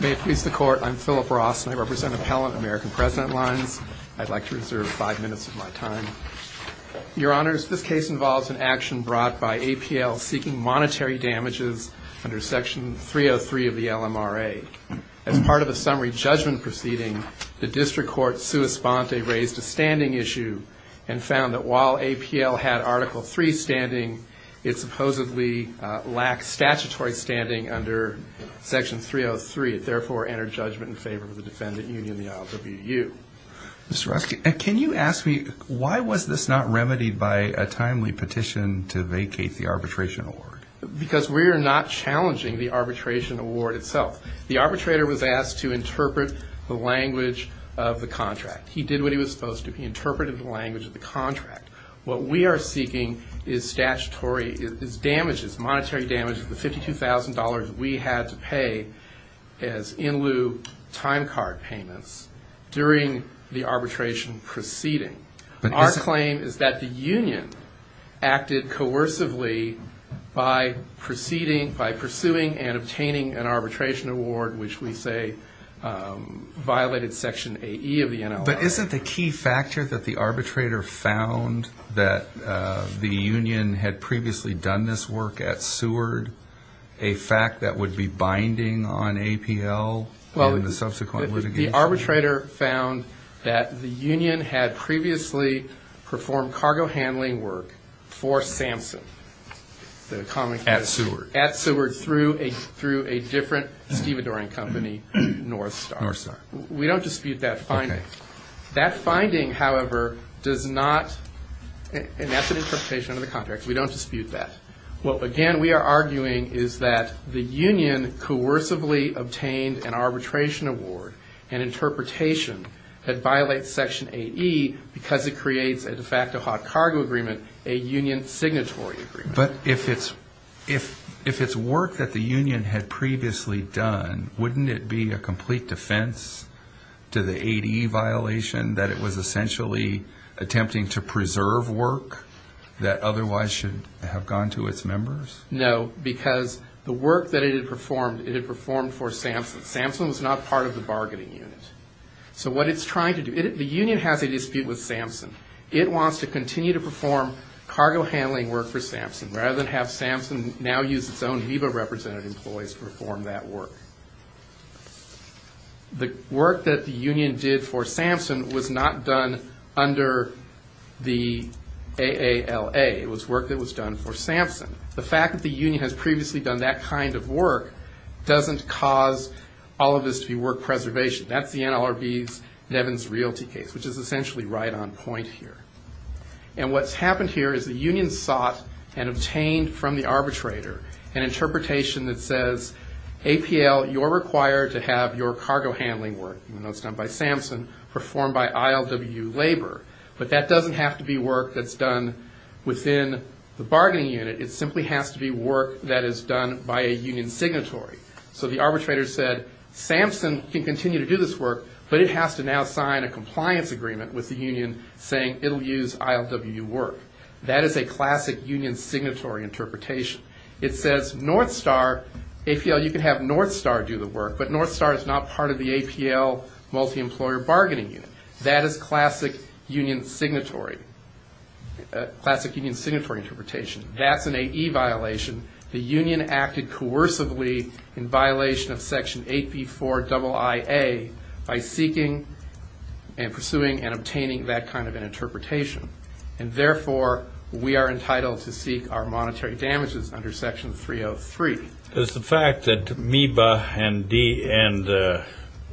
May it please the Court, I'm Philip Ross and I represent Appellant American President Lines. I'd like to reserve five minutes of my time. Your Honors, this case involves an action brought by APL seeking monetary damages under Section 303 of the LMRA. As part of a summary judgment proceeding, the District Court's sua sponte raised a standing issue and found that while APL had Article 3 standing, it supposedly lacked statutory standing under Section 303. It therefore entered judgment in favor of the Defendant Union, the IOWU. Mr. Rusty, can you ask me why was this not remedied by a timely petition to vacate the arbitration award? Because we are not challenging the arbitration award itself. The arbitrator was asked to interpret the language of the contract. He did what he was supposed to. He interpreted the language of the contract. What we are seeking is statutory damages, monetary damages, the $52,000 we had to pay as in lieu time card payments during the arbitration proceeding. Our claim is that the Union acted coercively by pursuing and obtaining an arbitration award, which we say violated Section AE of the NLR. But isn't the key factor that the arbitrator found that the Union had previously done this work at Seward a fact that would be binding on APL in the subsequent litigation? The arbitrator found that the Union had previously performed cargo handling work for Samson. At Seward. At Seward through a different stevedoring company, Northstar. We don't dispute that finding. That finding, however, does not, and that's an interpretation of the contract. We don't dispute that. What, again, we are arguing is that the Union coercively obtained an arbitration award, an interpretation that violates Section AE because it creates a de facto hot cargo agreement, a Union signatory agreement. But if it's work that the Union had previously done, wouldn't it be a complete defense to the ADE violation that it was essentially attempting to preserve work that otherwise should have gone to its members? No, because the work that it had performed, it had performed for Samson. Samson was not part of the bargaining unit. So what it's trying to do, the Union has a dispute with Samson. It wants to continue to perform cargo handling work for Samson rather than have Samson now use its own VIVA representative employees to perform that work. The work that the Union did for Samson was not done under the AALA. It was work that was done for Samson. The fact that the Union has previously done that kind of work doesn't cause all of this to be work preservation. That's the NLRB's Nevins Realty case, which is essentially right on point here. And what's happened here is the Union sought and obtained from the arbitrator an interpretation that says, APL, you're required to have your cargo handling work, even though it's done by Samson, performed by ILW labor. But that doesn't have to be work that's done within the bargaining unit. It simply has to be work that is done by a Union signatory. So the arbitrator said, Samson can continue to do this work, but it has to now sign a compliance agreement with the Union saying it'll use ILW work. That is a classic Union signatory interpretation. It says North Star, APL, you can have North Star do the work, but North Star is not part of the APL multi-employer bargaining unit. That is classic Union signatory interpretation. That's an AE violation. The Union acted coercively in violation of Section 8B4 IIA by seeking and pursuing and obtaining that kind of an interpretation. And therefore, we are entitled to seek our monetary damages under Section 303. Does the fact that MEBA and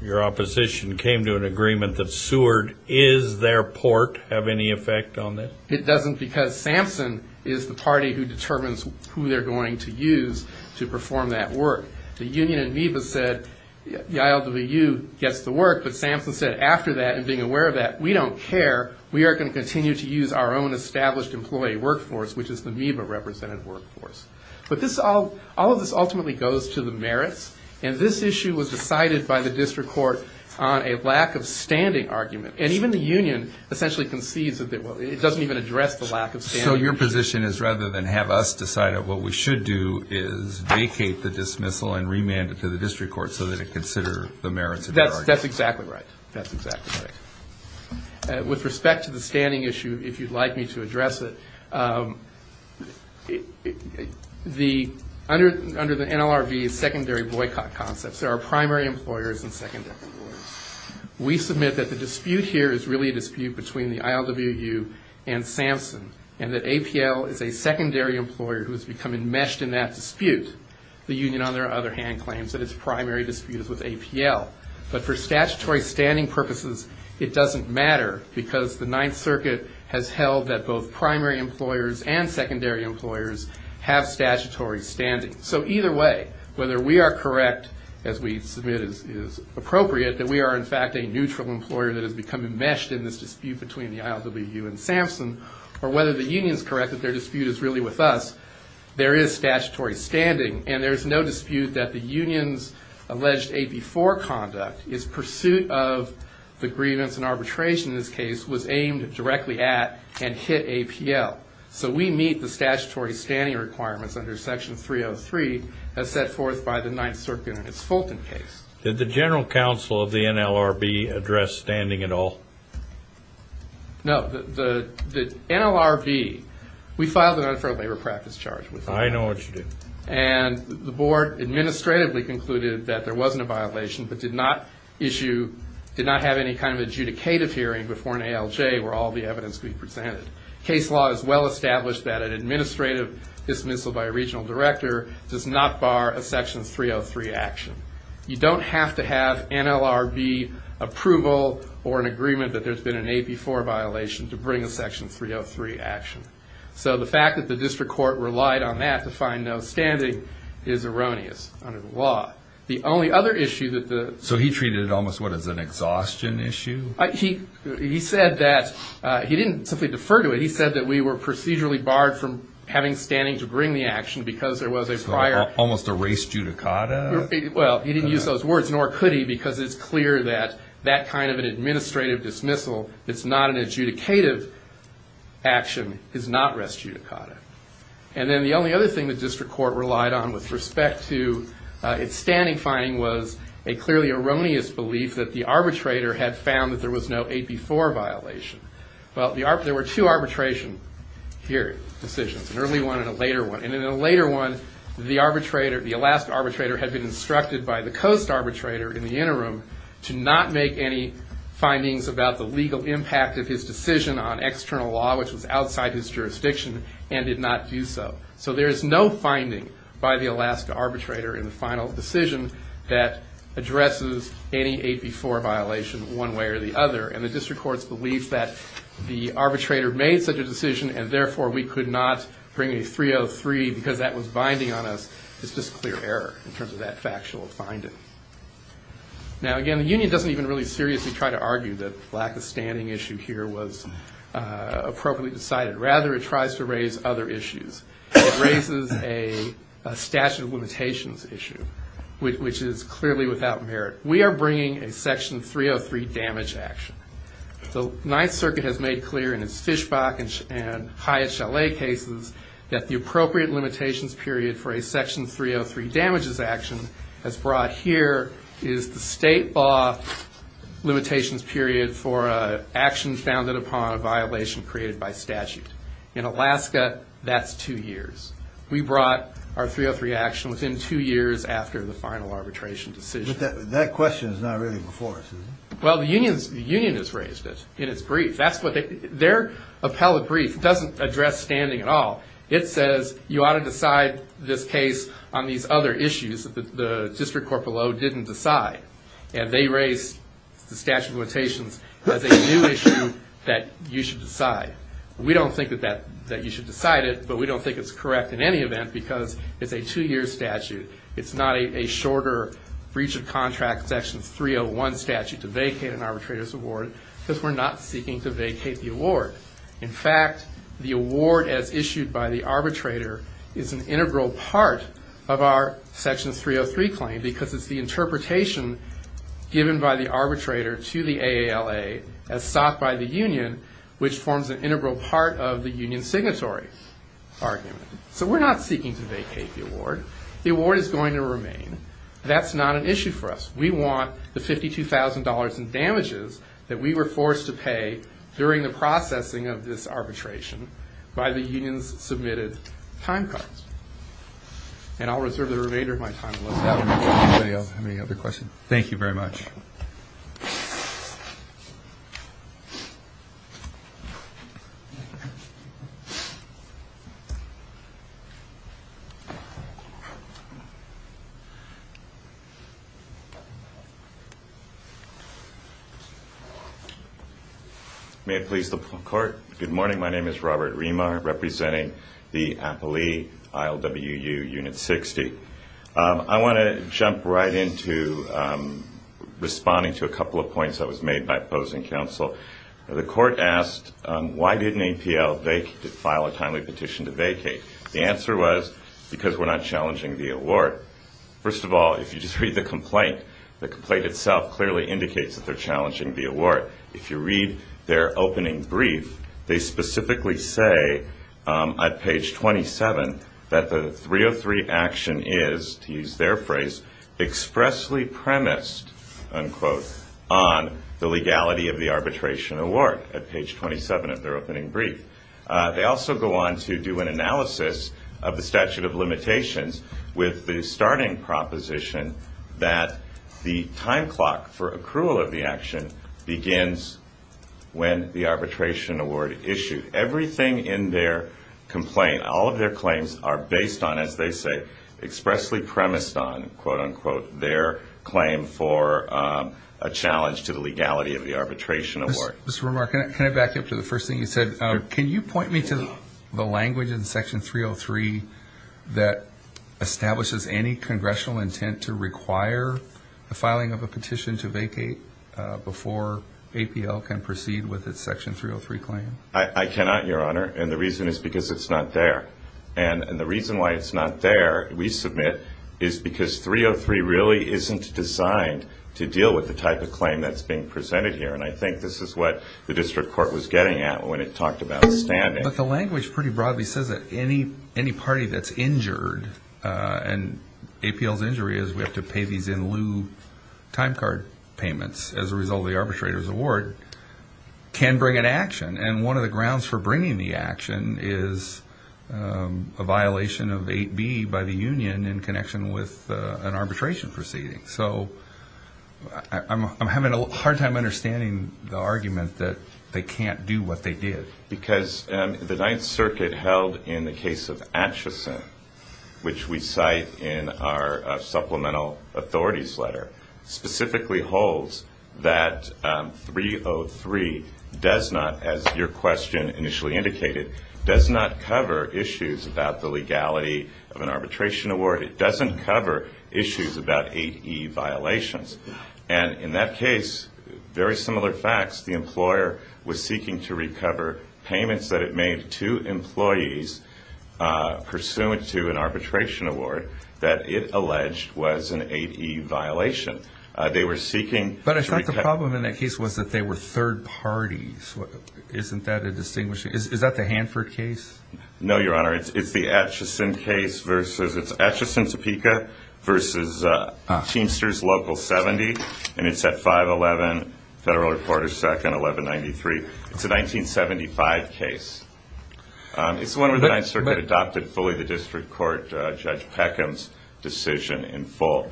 your opposition came to an agreement that Seward is their port have any effect on that? It doesn't because Samson is the party who determines who they're going to use to perform that work. The Union and MEBA said the ILWU gets the work, but Samson said after that and being aware of that, we don't care. We are going to continue to use our own established employee workforce, which is the MEBA represented workforce. But all of this ultimately goes to the merits, and this issue was decided by the district court on a lack of standing argument. And even the Union essentially concedes that it doesn't even address the lack of standing. So your position is rather than have us decide it, what we should do is vacate the dismissal and remand it to the district court so that it can consider the merits of that argument. That's exactly right. That's exactly right. With respect to the standing issue, if you'd like me to address it, under the NLRB is secondary boycott concepts. There are primary employers and secondary employers. We submit that the dispute here is really a dispute between the ILWU and Samson and that APL is a secondary employer who has become enmeshed in that dispute. The Union, on the other hand, claims that its primary dispute is with APL. But for statutory standing purposes, it doesn't matter because the Ninth Circuit has held that both primary employers and secondary employers have statutory standing. So either way, whether we are correct, as we submit is appropriate, that we are in fact a neutral employer that has become enmeshed in this dispute between the ILWU and Samson, or whether the Union is correct that their dispute is really with us, there is statutory standing. And there is no dispute that the Union's alleged AP4 conduct, its pursuit of the grievance and arbitration in this case, was aimed directly at and hit APL. So we meet the statutory standing requirements under Section 303 as set forth by the Ninth Circuit in its Fulton case. Did the general counsel of the NLRB address standing at all? No. The NLRB, we filed an unfair labor practice charge. I know what you did. And the board administratively concluded that there wasn't a violation but did not issue, did not have any kind of adjudicative hearing before an ALJ where all the evidence could be presented. Case law is well established that an administrative dismissal by a regional director does not bar a Section 303 action. You don't have to have NLRB approval or an agreement that there's been an AP4 violation to bring a Section 303 action. So the fact that the district court relied on that to find no standing is erroneous under the law. The only other issue that the... So he treated it almost, what, as an exhaustion issue? He said that he didn't simply defer to it. He said that we were procedurally barred from having standing to bring the action because there was a prior... So almost a res judicata? Well, he didn't use those words, nor could he, because it's clear that that kind of an administrative dismissal that's not an adjudicative action is not res judicata. And then the only other thing the district court relied on with respect to its standing finding was a clearly erroneous belief that the arbitrator had found that there was no AP4 violation. Well, there were two arbitration decisions, an early one and a later one. And in the later one, the Alaska arbitrator had been instructed by the coast arbitrator in the interim to not make any findings about the legal impact of his decision on external law, which was outside his jurisdiction, and did not do so. So there is no finding by the Alaska arbitrator in the final decision that addresses any AP4 violation one way or the other. And the district court's belief that the arbitrator made such a decision and therefore we could not bring a 303 because that was binding on us is just clear error in terms of that factual finding. Now, again, the union doesn't even really seriously try to argue that the lack of standing issue here was appropriately decided. Rather, it tries to raise other issues. It raises a statute of limitations issue, which is clearly without merit. We are bringing a Section 303 damage action. The Ninth Circuit has made clear in its Fishbach and Hyatt-Chalet cases that the appropriate limitations period for a Section 303 damages action as brought here is the state law limitations period for an action founded upon a violation created by statute. In Alaska, that's two years. We brought our 303 action within two years after the final arbitration decision. But that question is not really before us, is it? Well, the union has raised it in its brief. Their appellate brief doesn't address standing at all. It says you ought to decide this case on these other issues that the district court below didn't decide. And they raised the statute of limitations as a new issue that you should decide. We don't think that you should decide it, but we don't think it's correct in any event because it's a two-year statute. It's not a shorter breach of contract Section 301 statute to vacate an arbitrator's award because we're not seeking to vacate the award. In fact, the award as issued by the arbitrator is an integral part of our Section 303 claim because it's the interpretation given by the arbitrator to the AALA as sought by the union, which forms an integral part of the union's signatory argument. So we're not seeking to vacate the award. The award is going to remain. That's not an issue for us. We want the $52,000 in damages that we were forced to pay during the processing of this arbitration by the union's submitted time card. And I'll reserve the remainder of my time. Anybody have any other questions? Thank you very much. May it please the Court. Good morning. My name is Robert Remar, representing the appellee, ILWU Unit 60. I want to jump right into responding to a couple of points that was made by opposing counsel. The Court asked, why didn't APL file a timely petition to vacate? The answer was, because we're not challenging the award. First of all, if you just read the complaint, the complaint itself clearly indicates that they're challenging the award. If you read their opening brief, they specifically say on page 27 that the 303 action is, to use their phrase, expressly premised, unquote, on the legality of the arbitration award, at page 27 of their opening brief. They also go on to do an analysis of the statute of limitations with the starting proposition that the time clock for accrual of the action begins when the arbitration award is issued. Everything in their complaint, all of their claims are based on, as they say, expressly premised on, quote, unquote, their claim for a challenge to the legality of the arbitration award. Mr. Remar, can I back up to the first thing you said? Can you point me to the language in Section 303 that establishes any congressional intent to require the filing of a petition to vacate before APL can proceed with its Section 303 claim? I cannot, Your Honor, and the reason is because it's not there. And the reason why it's not there, we submit, is because 303 really isn't designed to deal with the type of claim that's being presented here. And I think this is what the district court was getting at when it talked about standing. But the language pretty broadly says that any party that's injured, and APL's injury is we have to pay these in lieu time card payments as a result of the arbitrator's award, can bring an action. And one of the grounds for bringing the action is a violation of 8B by the union in connection with an arbitration proceeding. So I'm having a hard time understanding the argument that they can't do what they did. Because the Ninth Circuit held in the case of Atchison, which we cite in our supplemental authorities letter, specifically holds that 303 does not, as your question initially indicated, does not cover issues about the legality of an arbitration award. It doesn't cover issues about 8E violations. And in that case, very similar facts, the employer was seeking to recover payments that it made to employees pursuant to an arbitration award that it alleged was an 8E violation. They were seeking to recover. But I thought the problem in that case was that they were third parties. Isn't that a distinguishing? Is that the Hanford case? No, Your Honor. It's the Atchison case versus Atchison, Topeka, versus Teamsters Local 70. And it's at 511 Federal Reporters Second, 1193. It's a 1975 case. It's the one where the Ninth Circuit adopted fully the district court, Judge Peckham's decision in full.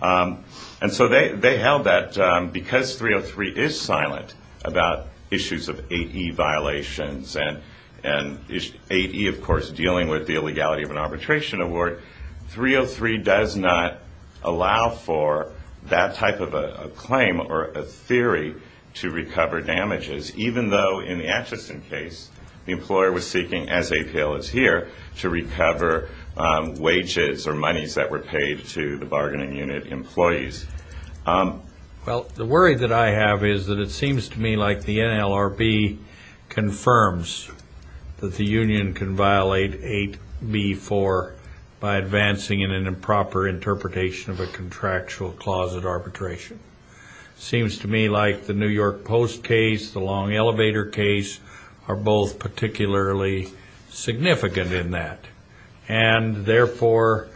And so they held that because 303 is silent about issues of 8E violations and 8E, of course, dealing with the illegality of an arbitration award, 303 does not allow for that type of a claim or a theory to recover damages, even though in the Atchison case, the employer was seeking, as APL is here, to recover wages or monies that were paid to the bargaining unit employees. Well, the worry that I have is that it seems to me like the NLRB confirms that the union can violate 8B-4 by advancing in an improper interpretation of a contractual closet arbitration. It seems to me like the New York Post case, the Long Elevator case, are both particularly significant in that. And, therefore,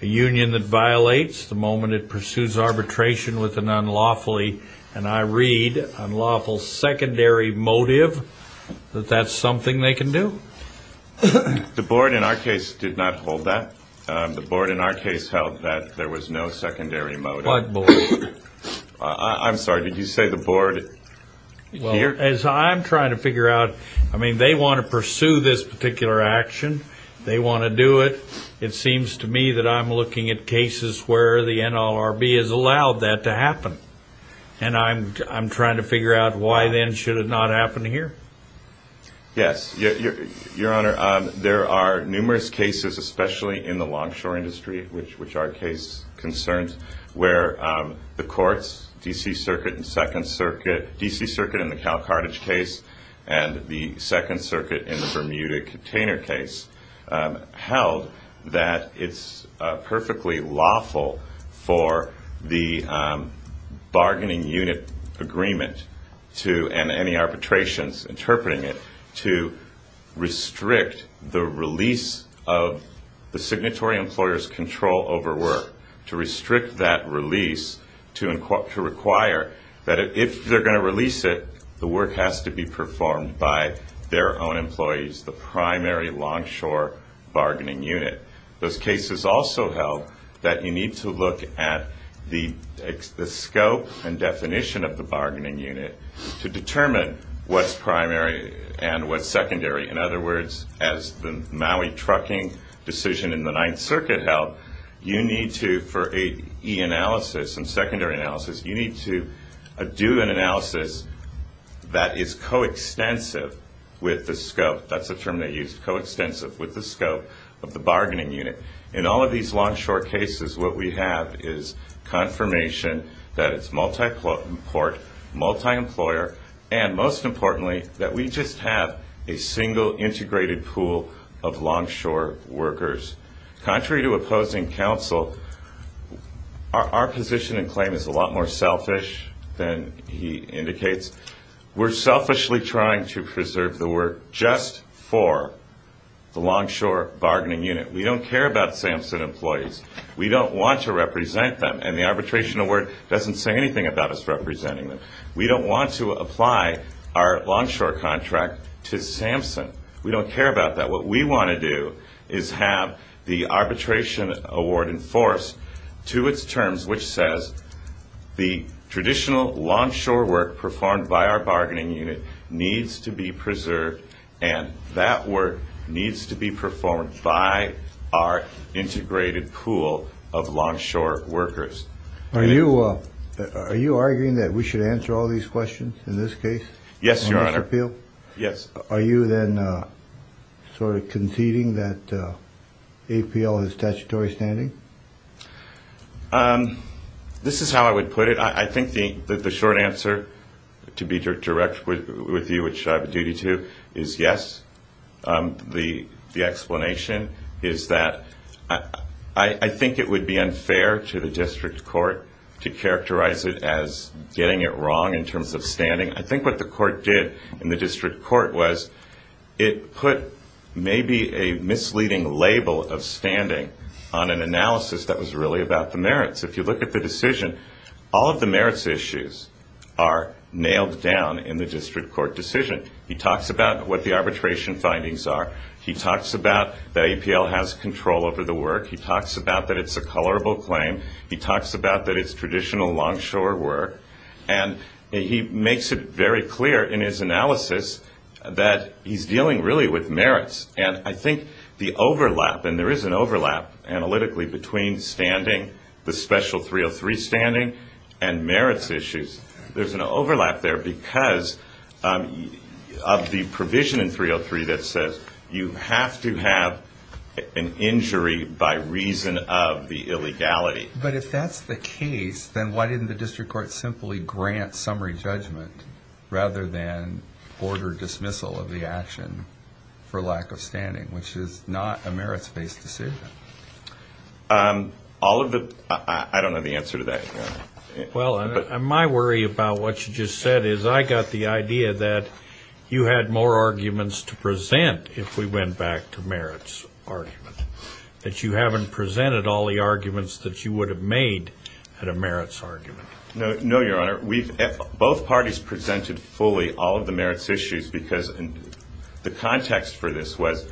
a union that violates the moment it pursues arbitration with an unlawfully, and I read, unlawful secondary motive, that that's something they can do? The board, in our case, did not hold that. The board, in our case, held that there was no secondary motive. I'm sorry. Did you say the board here? Well, as I'm trying to figure out, I mean, they want to pursue this particular action. They want to do it. It seems to me that I'm looking at cases where the NLRB has allowed that to happen, and I'm trying to figure out why, then, should it not happen here? Yes. Your Honor, there are numerous cases, especially in the longshore industry, which our case concerns, where the courts, D.C. Circuit and Second Circuit, D.C. Circuit in the Cal Carthage case and the Second Circuit in the Bermuda container case, held that it's perfectly lawful for the bargaining unit agreement to, and any arbitrations interpreting it, to restrict the release of the signatory employer's control over work, to restrict that release, to require that if they're going to release it, the work has to be performed by their own employees, the primary longshore bargaining unit. Those cases also held that you need to look at the scope and definition of the bargaining unit to determine what's primary and what's secondary. In other words, as the Maui trucking decision in the Ninth Circuit held, you need to, for an e-analysis and secondary analysis, you need to do an analysis that is coextensive with the scope. That's the term they used, coextensive with the scope of the bargaining unit. In all of these longshore cases, what we have is confirmation that it's multi-port, multi-employer, and most importantly, that we just have a single integrated pool of longshore workers. Contrary to opposing counsel, our position and claim is a lot more selfish than he indicates. We're selfishly trying to preserve the work just for the longshore bargaining unit. We don't care about SAMHSA employees. We don't want to represent them, and the arbitration award doesn't say anything about us representing them. We don't want to apply our longshore contract to SAMHSA. We don't care about that. What we want to do is have the arbitration award enforced to its terms, which says the traditional longshore work performed by our bargaining unit needs to be preserved, and that work needs to be performed by our integrated pool of longshore workers. Are you arguing that we should answer all these questions in this case? Yes, Your Honor. Are you then sort of conceding that APL has statutory standing? This is how I would put it. I think the short answer, to be direct with you, which I have a duty to, is yes. The explanation is that I think it would be unfair to the district court to characterize it as getting it wrong in terms of standing. I think what the court did in the district court was it put maybe a misleading label of standing on an analysis that was really about the merits. If you look at the decision, all of the merits issues are nailed down in the district court decision. He talks about what the arbitration findings are. He talks about that APL has control over the work. He talks about that it's a colorable claim. He talks about that it's traditional longshore work. And he makes it very clear in his analysis that he's dealing really with merits. And I think the overlap, and there is an overlap analytically between standing, the special 303 standing and merits issues, there's an overlap there because of the provision in 303 that says you have to have an injury by reason of the illegality. But if that's the case, then why didn't the district court simply grant summary judgment rather than order dismissal of the action for lack of standing, which is not a merits-based decision? All of the ‑‑I don't know the answer to that. Well, my worry about what you just said is I got the idea that you had more arguments to present if we went back to merits argument, that you haven't presented all the arguments that you would have made at a merits argument. No, Your Honor, both parties presented fully all of the merits issues because the context for this was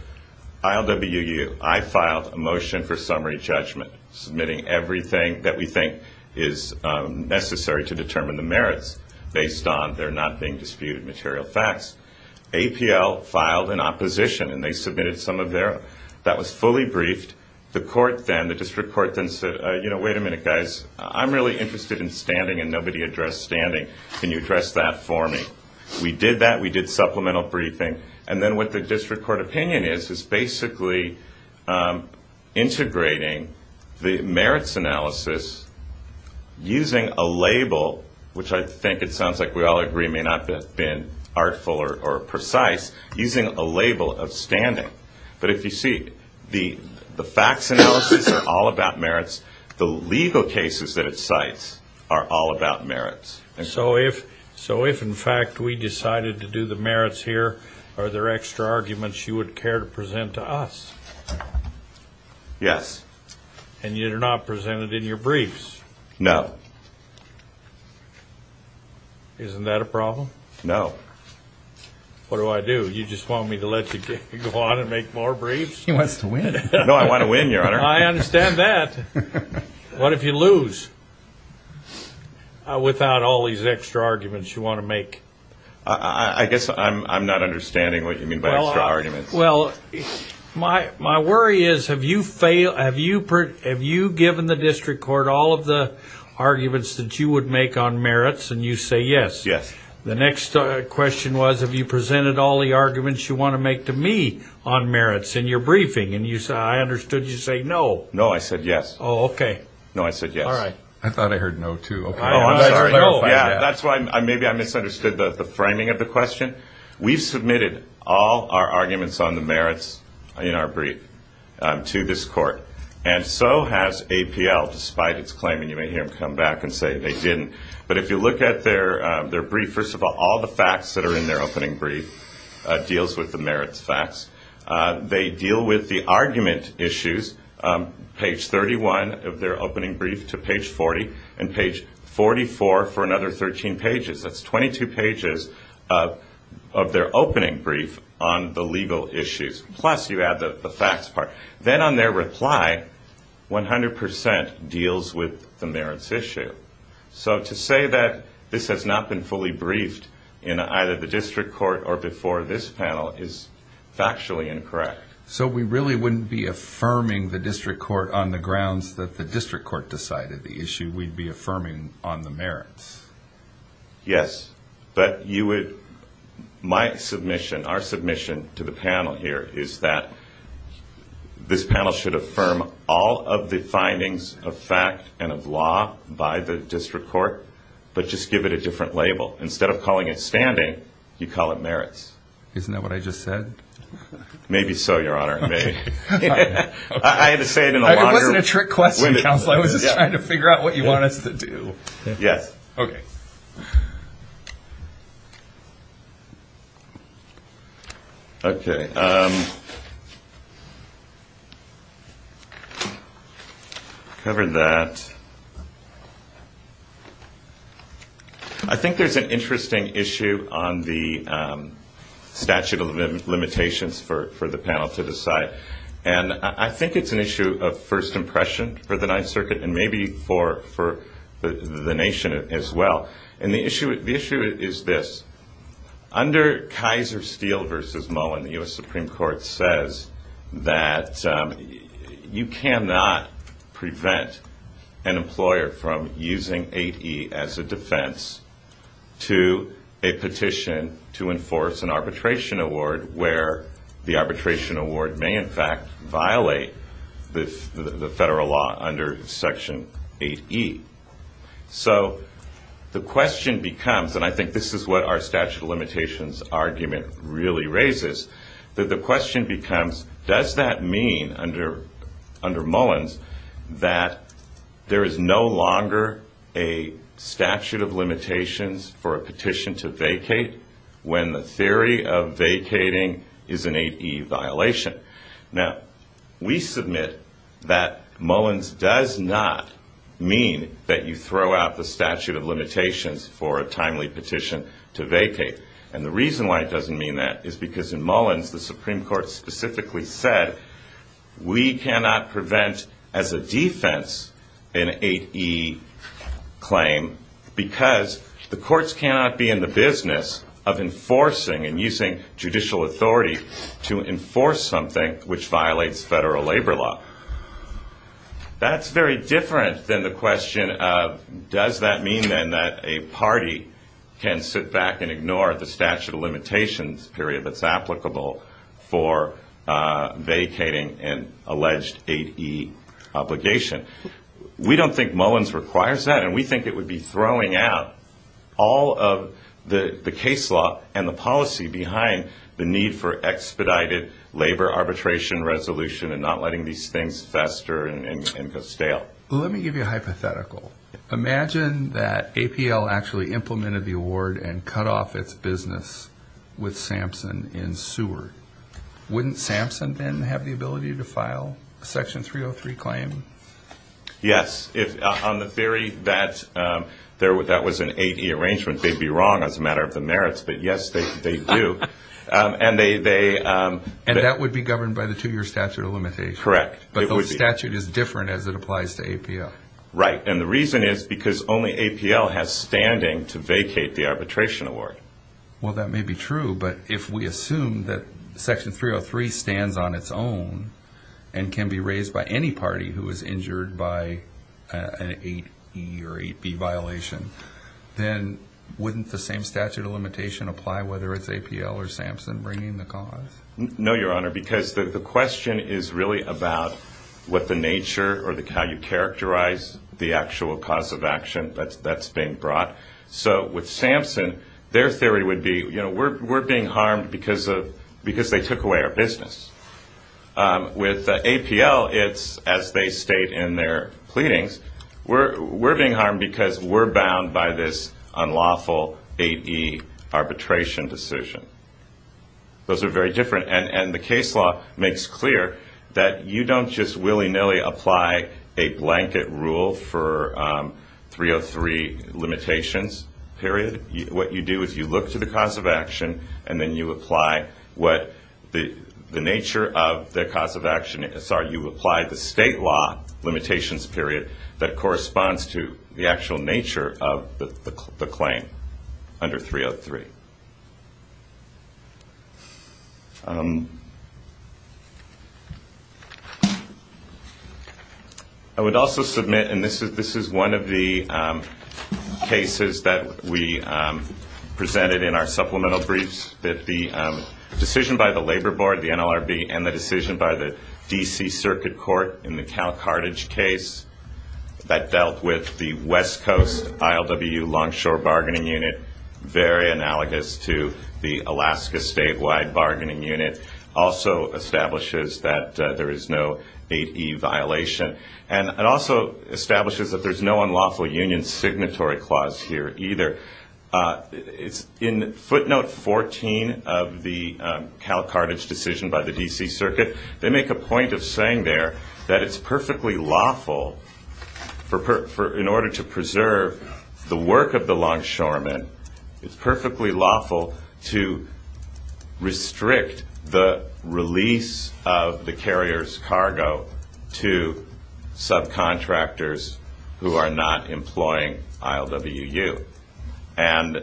ILWU, I filed a motion for summary judgment, submitting everything that we think is necessary to determine the merits based on their not being disputed material facts. APL filed an opposition, and they submitted some of their ‑‑ that was fully briefed. The court then, the district court then said, you know, wait a minute, guys. I'm really interested in standing, and nobody addressed standing. Can you address that for me? We did that. We did supplemental briefing. And then what the district court opinion is is basically integrating the merits analysis using a label, which I think it sounds like we all agree may not have been artful or precise, using a label of standing. But if you see, the facts analysis are all about merits. The legal cases that it cites are all about merits. So if, in fact, we decided to do the merits here, are there extra arguments you would care to present to us? Yes. And you did not present it in your briefs? No. Isn't that a problem? No. What do I do? You just want me to let you go on and make more briefs? He wants to win. No, I want to win, Your Honor. I understand that. What if you lose without all these extra arguments you want to make? I guess I'm not understanding what you mean by extra arguments. Well, my worry is, have you given the district court all of the arguments that you would make on merits, and you say yes? Yes. The next question was, have you presented all the arguments you want to make to me on merits in your briefing? And I understood you say no. No, I said yes. Oh, okay. No, I said yes. All right. I thought I heard no, too. Oh, I'm sorry. Yeah, that's why maybe I misunderstood the framing of the question. We've submitted all our arguments on the merits in our brief to this court, and so has APL, despite its claim. And you may hear them come back and say they didn't. But if you look at their brief, first of all, all the facts that are in their opening brief deals with the merits facts. They deal with the argument issues, page 31 of their opening brief to page 40, and page 44 for another 13 pages. That's 22 pages of their opening brief on the legal issues, plus you add the facts part. Then on their reply, 100% deals with the merits issue. So to say that this has not been fully briefed in either the district court or before this panel is factually incorrect. So we really wouldn't be affirming the district court on the grounds that the district court decided the issue. We'd be affirming on the merits. Yes. But you would, my submission, our submission to the panel here is that this panel should affirm all of the findings of fact and of law by the district court. But just give it a different label. Instead of calling it standing, you call it merits. Isn't that what I just said? Maybe so, Your Honor. I had to say it in a longer. It wasn't a trick question, Counselor. I was just trying to figure out what you want us to do. Yes. Okay. Okay. Cover that. I think there's an interesting issue on the statute of limitations for the panel to decide. And I think it's an issue of first impression for the Ninth Circuit and maybe for the nation as well. And the issue is this. Under Kaiser Steel v. Mullen, the U.S. Supreme Court says that you cannot prevent an employer from using 8E as a defense to a petition to enforce an arbitration award where the arbitration award may, in fact, violate the federal law under Section 8E. So the question becomes, and I think this is what our statute of limitations argument really raises, that the question becomes, does that mean under Mullins that there is no longer a statute of limitations for a petition to vacate when the theory of vacating is an 8E violation? Now, we submit that Mullins does not mean that you throw out the statute of limitations for a timely petition to vacate. And the reason why it doesn't mean that is because in Mullins, the Supreme Court specifically said, we cannot prevent as a defense an 8E claim because the courts cannot be in the business of enforcing and using judicial authority to enforce something which violates federal labor law. That's very different than the question of does that mean then that a party can sit back and ignore the statute of limitations period that's applicable for vacating an alleged 8E obligation. We don't think Mullins requires that, and we think it would be throwing out all of the case law and the policy behind the need for expedited labor arbitration resolution and not letting these things fester and go stale. Let me give you a hypothetical. Imagine that APL actually implemented the award and cut off its business with Sampson in Seward. Wouldn't Sampson then have the ability to file a Section 303 claim? Yes. On the theory that that was an 8E arrangement, they'd be wrong as a matter of the merits, but yes, they do. And that would be governed by the two-year statute of limitations. Correct. But the statute is different as it applies to APL. Right, and the reason is because only APL has standing to vacate the arbitration award. Well, that may be true, but if we assume that Section 303 stands on its own and can be raised by any party who is injured by an 8E or 8B violation, then wouldn't the same statute of limitation apply whether it's APL or Sampson bringing the cause? No, Your Honor, because the question is really about what the nature or how you characterize the actual cause of action that's being brought. So with Sampson, their theory would be, you know, we're being harmed because they took away our business. With APL, it's as they state in their pleadings, we're being harmed because we're bound by this unlawful 8E arbitration decision. Those are very different. And the case law makes clear that you don't just willy-nilly apply a blanket rule for 303 limitations period. What you do is you look to the cause of action, and then you apply what the nature of the cause of action is. You apply the state law limitations period that corresponds to the actual nature of the claim under 303. I would also submit, and this is one of the cases that we presented in our supplemental briefs, that the decision by the Labor Board, the NLRB, and the decision by the D.C. Circuit Court in the Cal Carthage case that dealt with the West Coast ILWU Longshore Bargaining Unit, very analogous to the Alaska Statewide Bargaining Unit, also establishes that there is no 8E violation. And it also establishes that there's no unlawful union signatory clause here either. In footnote 14 of the Cal Carthage decision by the D.C. Circuit, they make a point of saying there that it's perfectly lawful in order to preserve the work of the longshoremen, it's perfectly lawful to restrict the release of the carrier's cargo to subcontractors who are not employing ILWU. And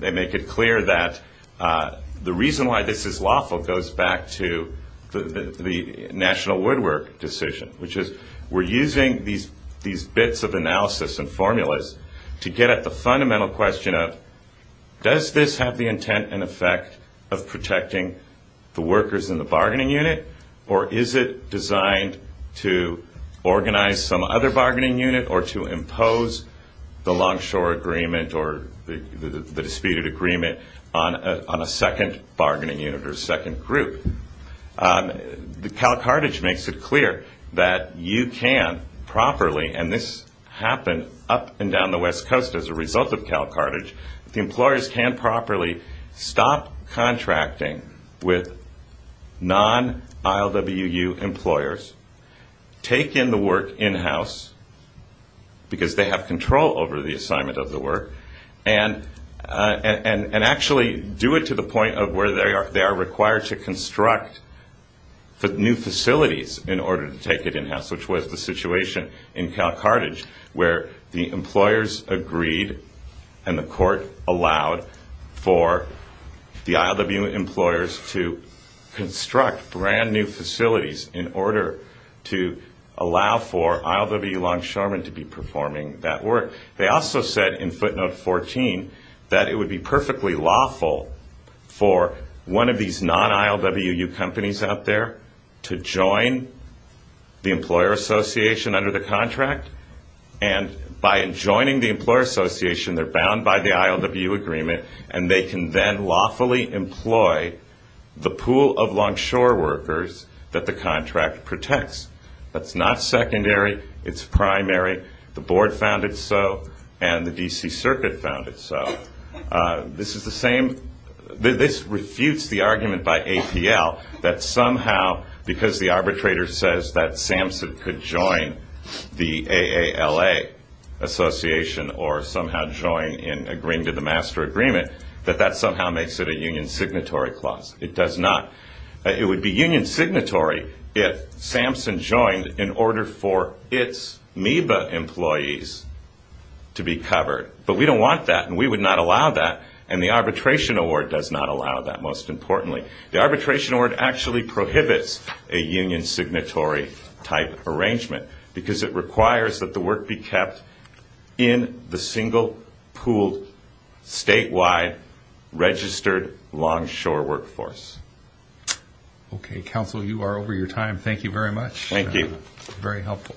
they make it clear that the reason why this is lawful goes back to the National Woodwork decision, which is we're using these bits of analysis and formulas to get at the fundamental question of, does this have the intent and effect of protecting the workers in the bargaining unit, or is it designed to organize some other bargaining unit or to impose the longshore agreement or the disputed agreement on a second bargaining unit or second group? Cal Carthage makes it clear that you can properly, and this happened up and down the West Coast as a result of Cal Carthage, the employers can properly stop contracting with non-ILWU employers, take in the work in-house because they have control over the assignment of the work, and actually do it to the point of where they are required to construct new facilities in order to take it in-house, which was the situation in Cal Carthage where the employers agreed and the court allowed for the ILWU employers to construct brand-new facilities in order to allow for ILWU longshoremen to be performing that work. They also said in footnote 14 that it would be perfectly lawful for one of these non-ILWU companies out there to join the employer association under the contract, and by joining the employer association, they're bound by the ILWU agreement, and they can then lawfully employ the pool of longshore workers that the contract protects. That's not secondary. It's primary. The board found it so, and the D.C. Circuit found it so. This is the same. This refutes the argument by APL that somehow because the arbitrator says that SAMHSA could join the AALA association or somehow join in agreeing to the master agreement, that that somehow makes it a union signatory clause. It does not. It would be union signatory if SAMHSA joined in order for its MEBA employees to be covered, but we don't want that, and we would not allow that, and the arbitration award does not allow that, most importantly. The arbitration award actually prohibits a union signatory-type arrangement because it requires that the work be kept in the single pooled statewide registered longshore workforce. Okay. Counsel, you are over your time. Thank you very much. Thank you. Very helpful.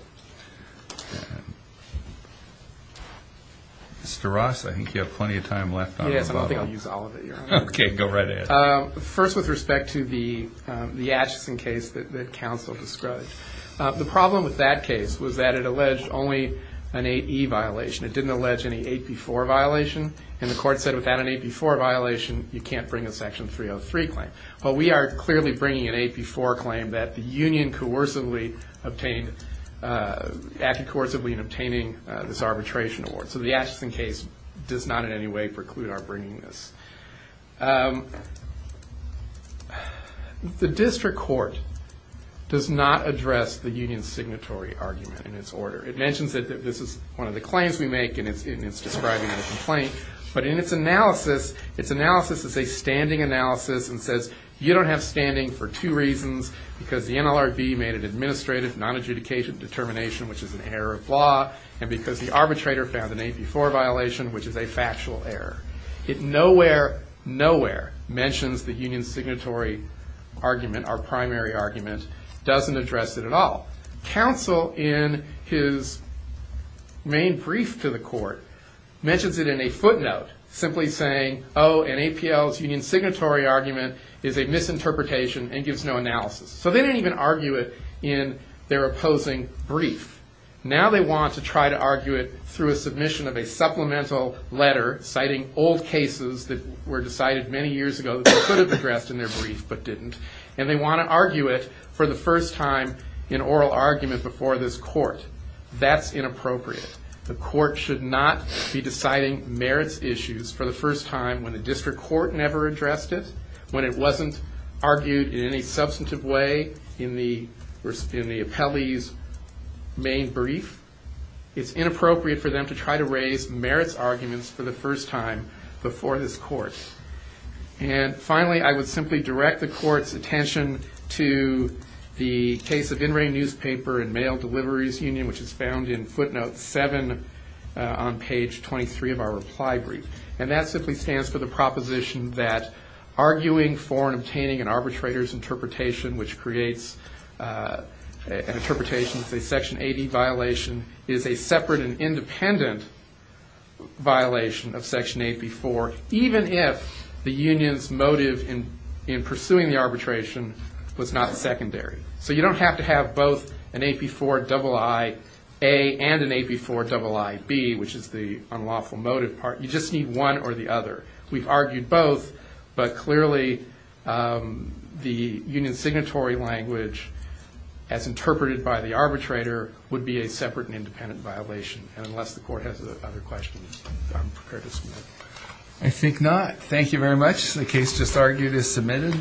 Mr. Ross, I think you have plenty of time left. Yes, I don't think I'll use all of it, Your Honor. Okay. Go right ahead. First, with respect to the Atchison case that counsel described. The problem with that case was that it alleged only an 8E violation. It didn't allege any 8B4 violation, and the court said without an 8B4 violation, you can't bring a Section 303 claim. Well, we are clearly bringing an 8B4 claim that the union coercively obtained, acted coercively in obtaining this arbitration award, so the Atchison case does not in any way preclude our bringing this. The district court does not address the union's signatory argument in its order. It mentions that this is one of the claims we make, and it's describing a complaint, but in its analysis, its analysis is a standing analysis and says you don't have standing for two reasons, because the NLRB made an administrative non-adjudication determination, which is an error of law, and because the arbitrator found an 8B4 violation, which is a factual error. It nowhere, nowhere mentions the union's signatory argument, our primary argument, doesn't address it at all. Counsel, in his main brief to the court, mentions it in a footnote, simply saying, oh, an APL's union's signatory argument is a misinterpretation and gives no analysis. So they didn't even argue it in their opposing brief. Now they want to try to argue it through a submission of a supplemental letter citing old cases that were decided many years ago that they could have addressed in their brief but didn't, and they want to argue it for the first time in oral argument before this court. That's inappropriate. The court should not be deciding merits issues for the first time when the district court never addressed it, when it wasn't argued in any substantive way in the appellee's main brief. It's inappropriate for them to try to raise merits arguments for the first time before this court. And finally, I would simply direct the court's attention to the case of In Re Newspaper and Mail Deliveries Union, which is found in footnote 7 on page 23 of our reply brief. And that simply stands for the proposition that arguing for and obtaining an arbitrator's interpretation, which creates an interpretation of a Section 80 violation, is a separate and independent violation of Section AP4, even if the union's motive in pursuing the arbitration was not secondary. So you don't have to have both an AP4 double IA and an AP4 double IB, which is the unlawful motive part. You just need one or the other. We've argued both, but clearly the union's signatory language, as interpreted by the arbitrator, would be a separate and independent violation. And unless the court has other questions, I'm prepared to submit. I think not. Thank you very much. The case just argued is submitted.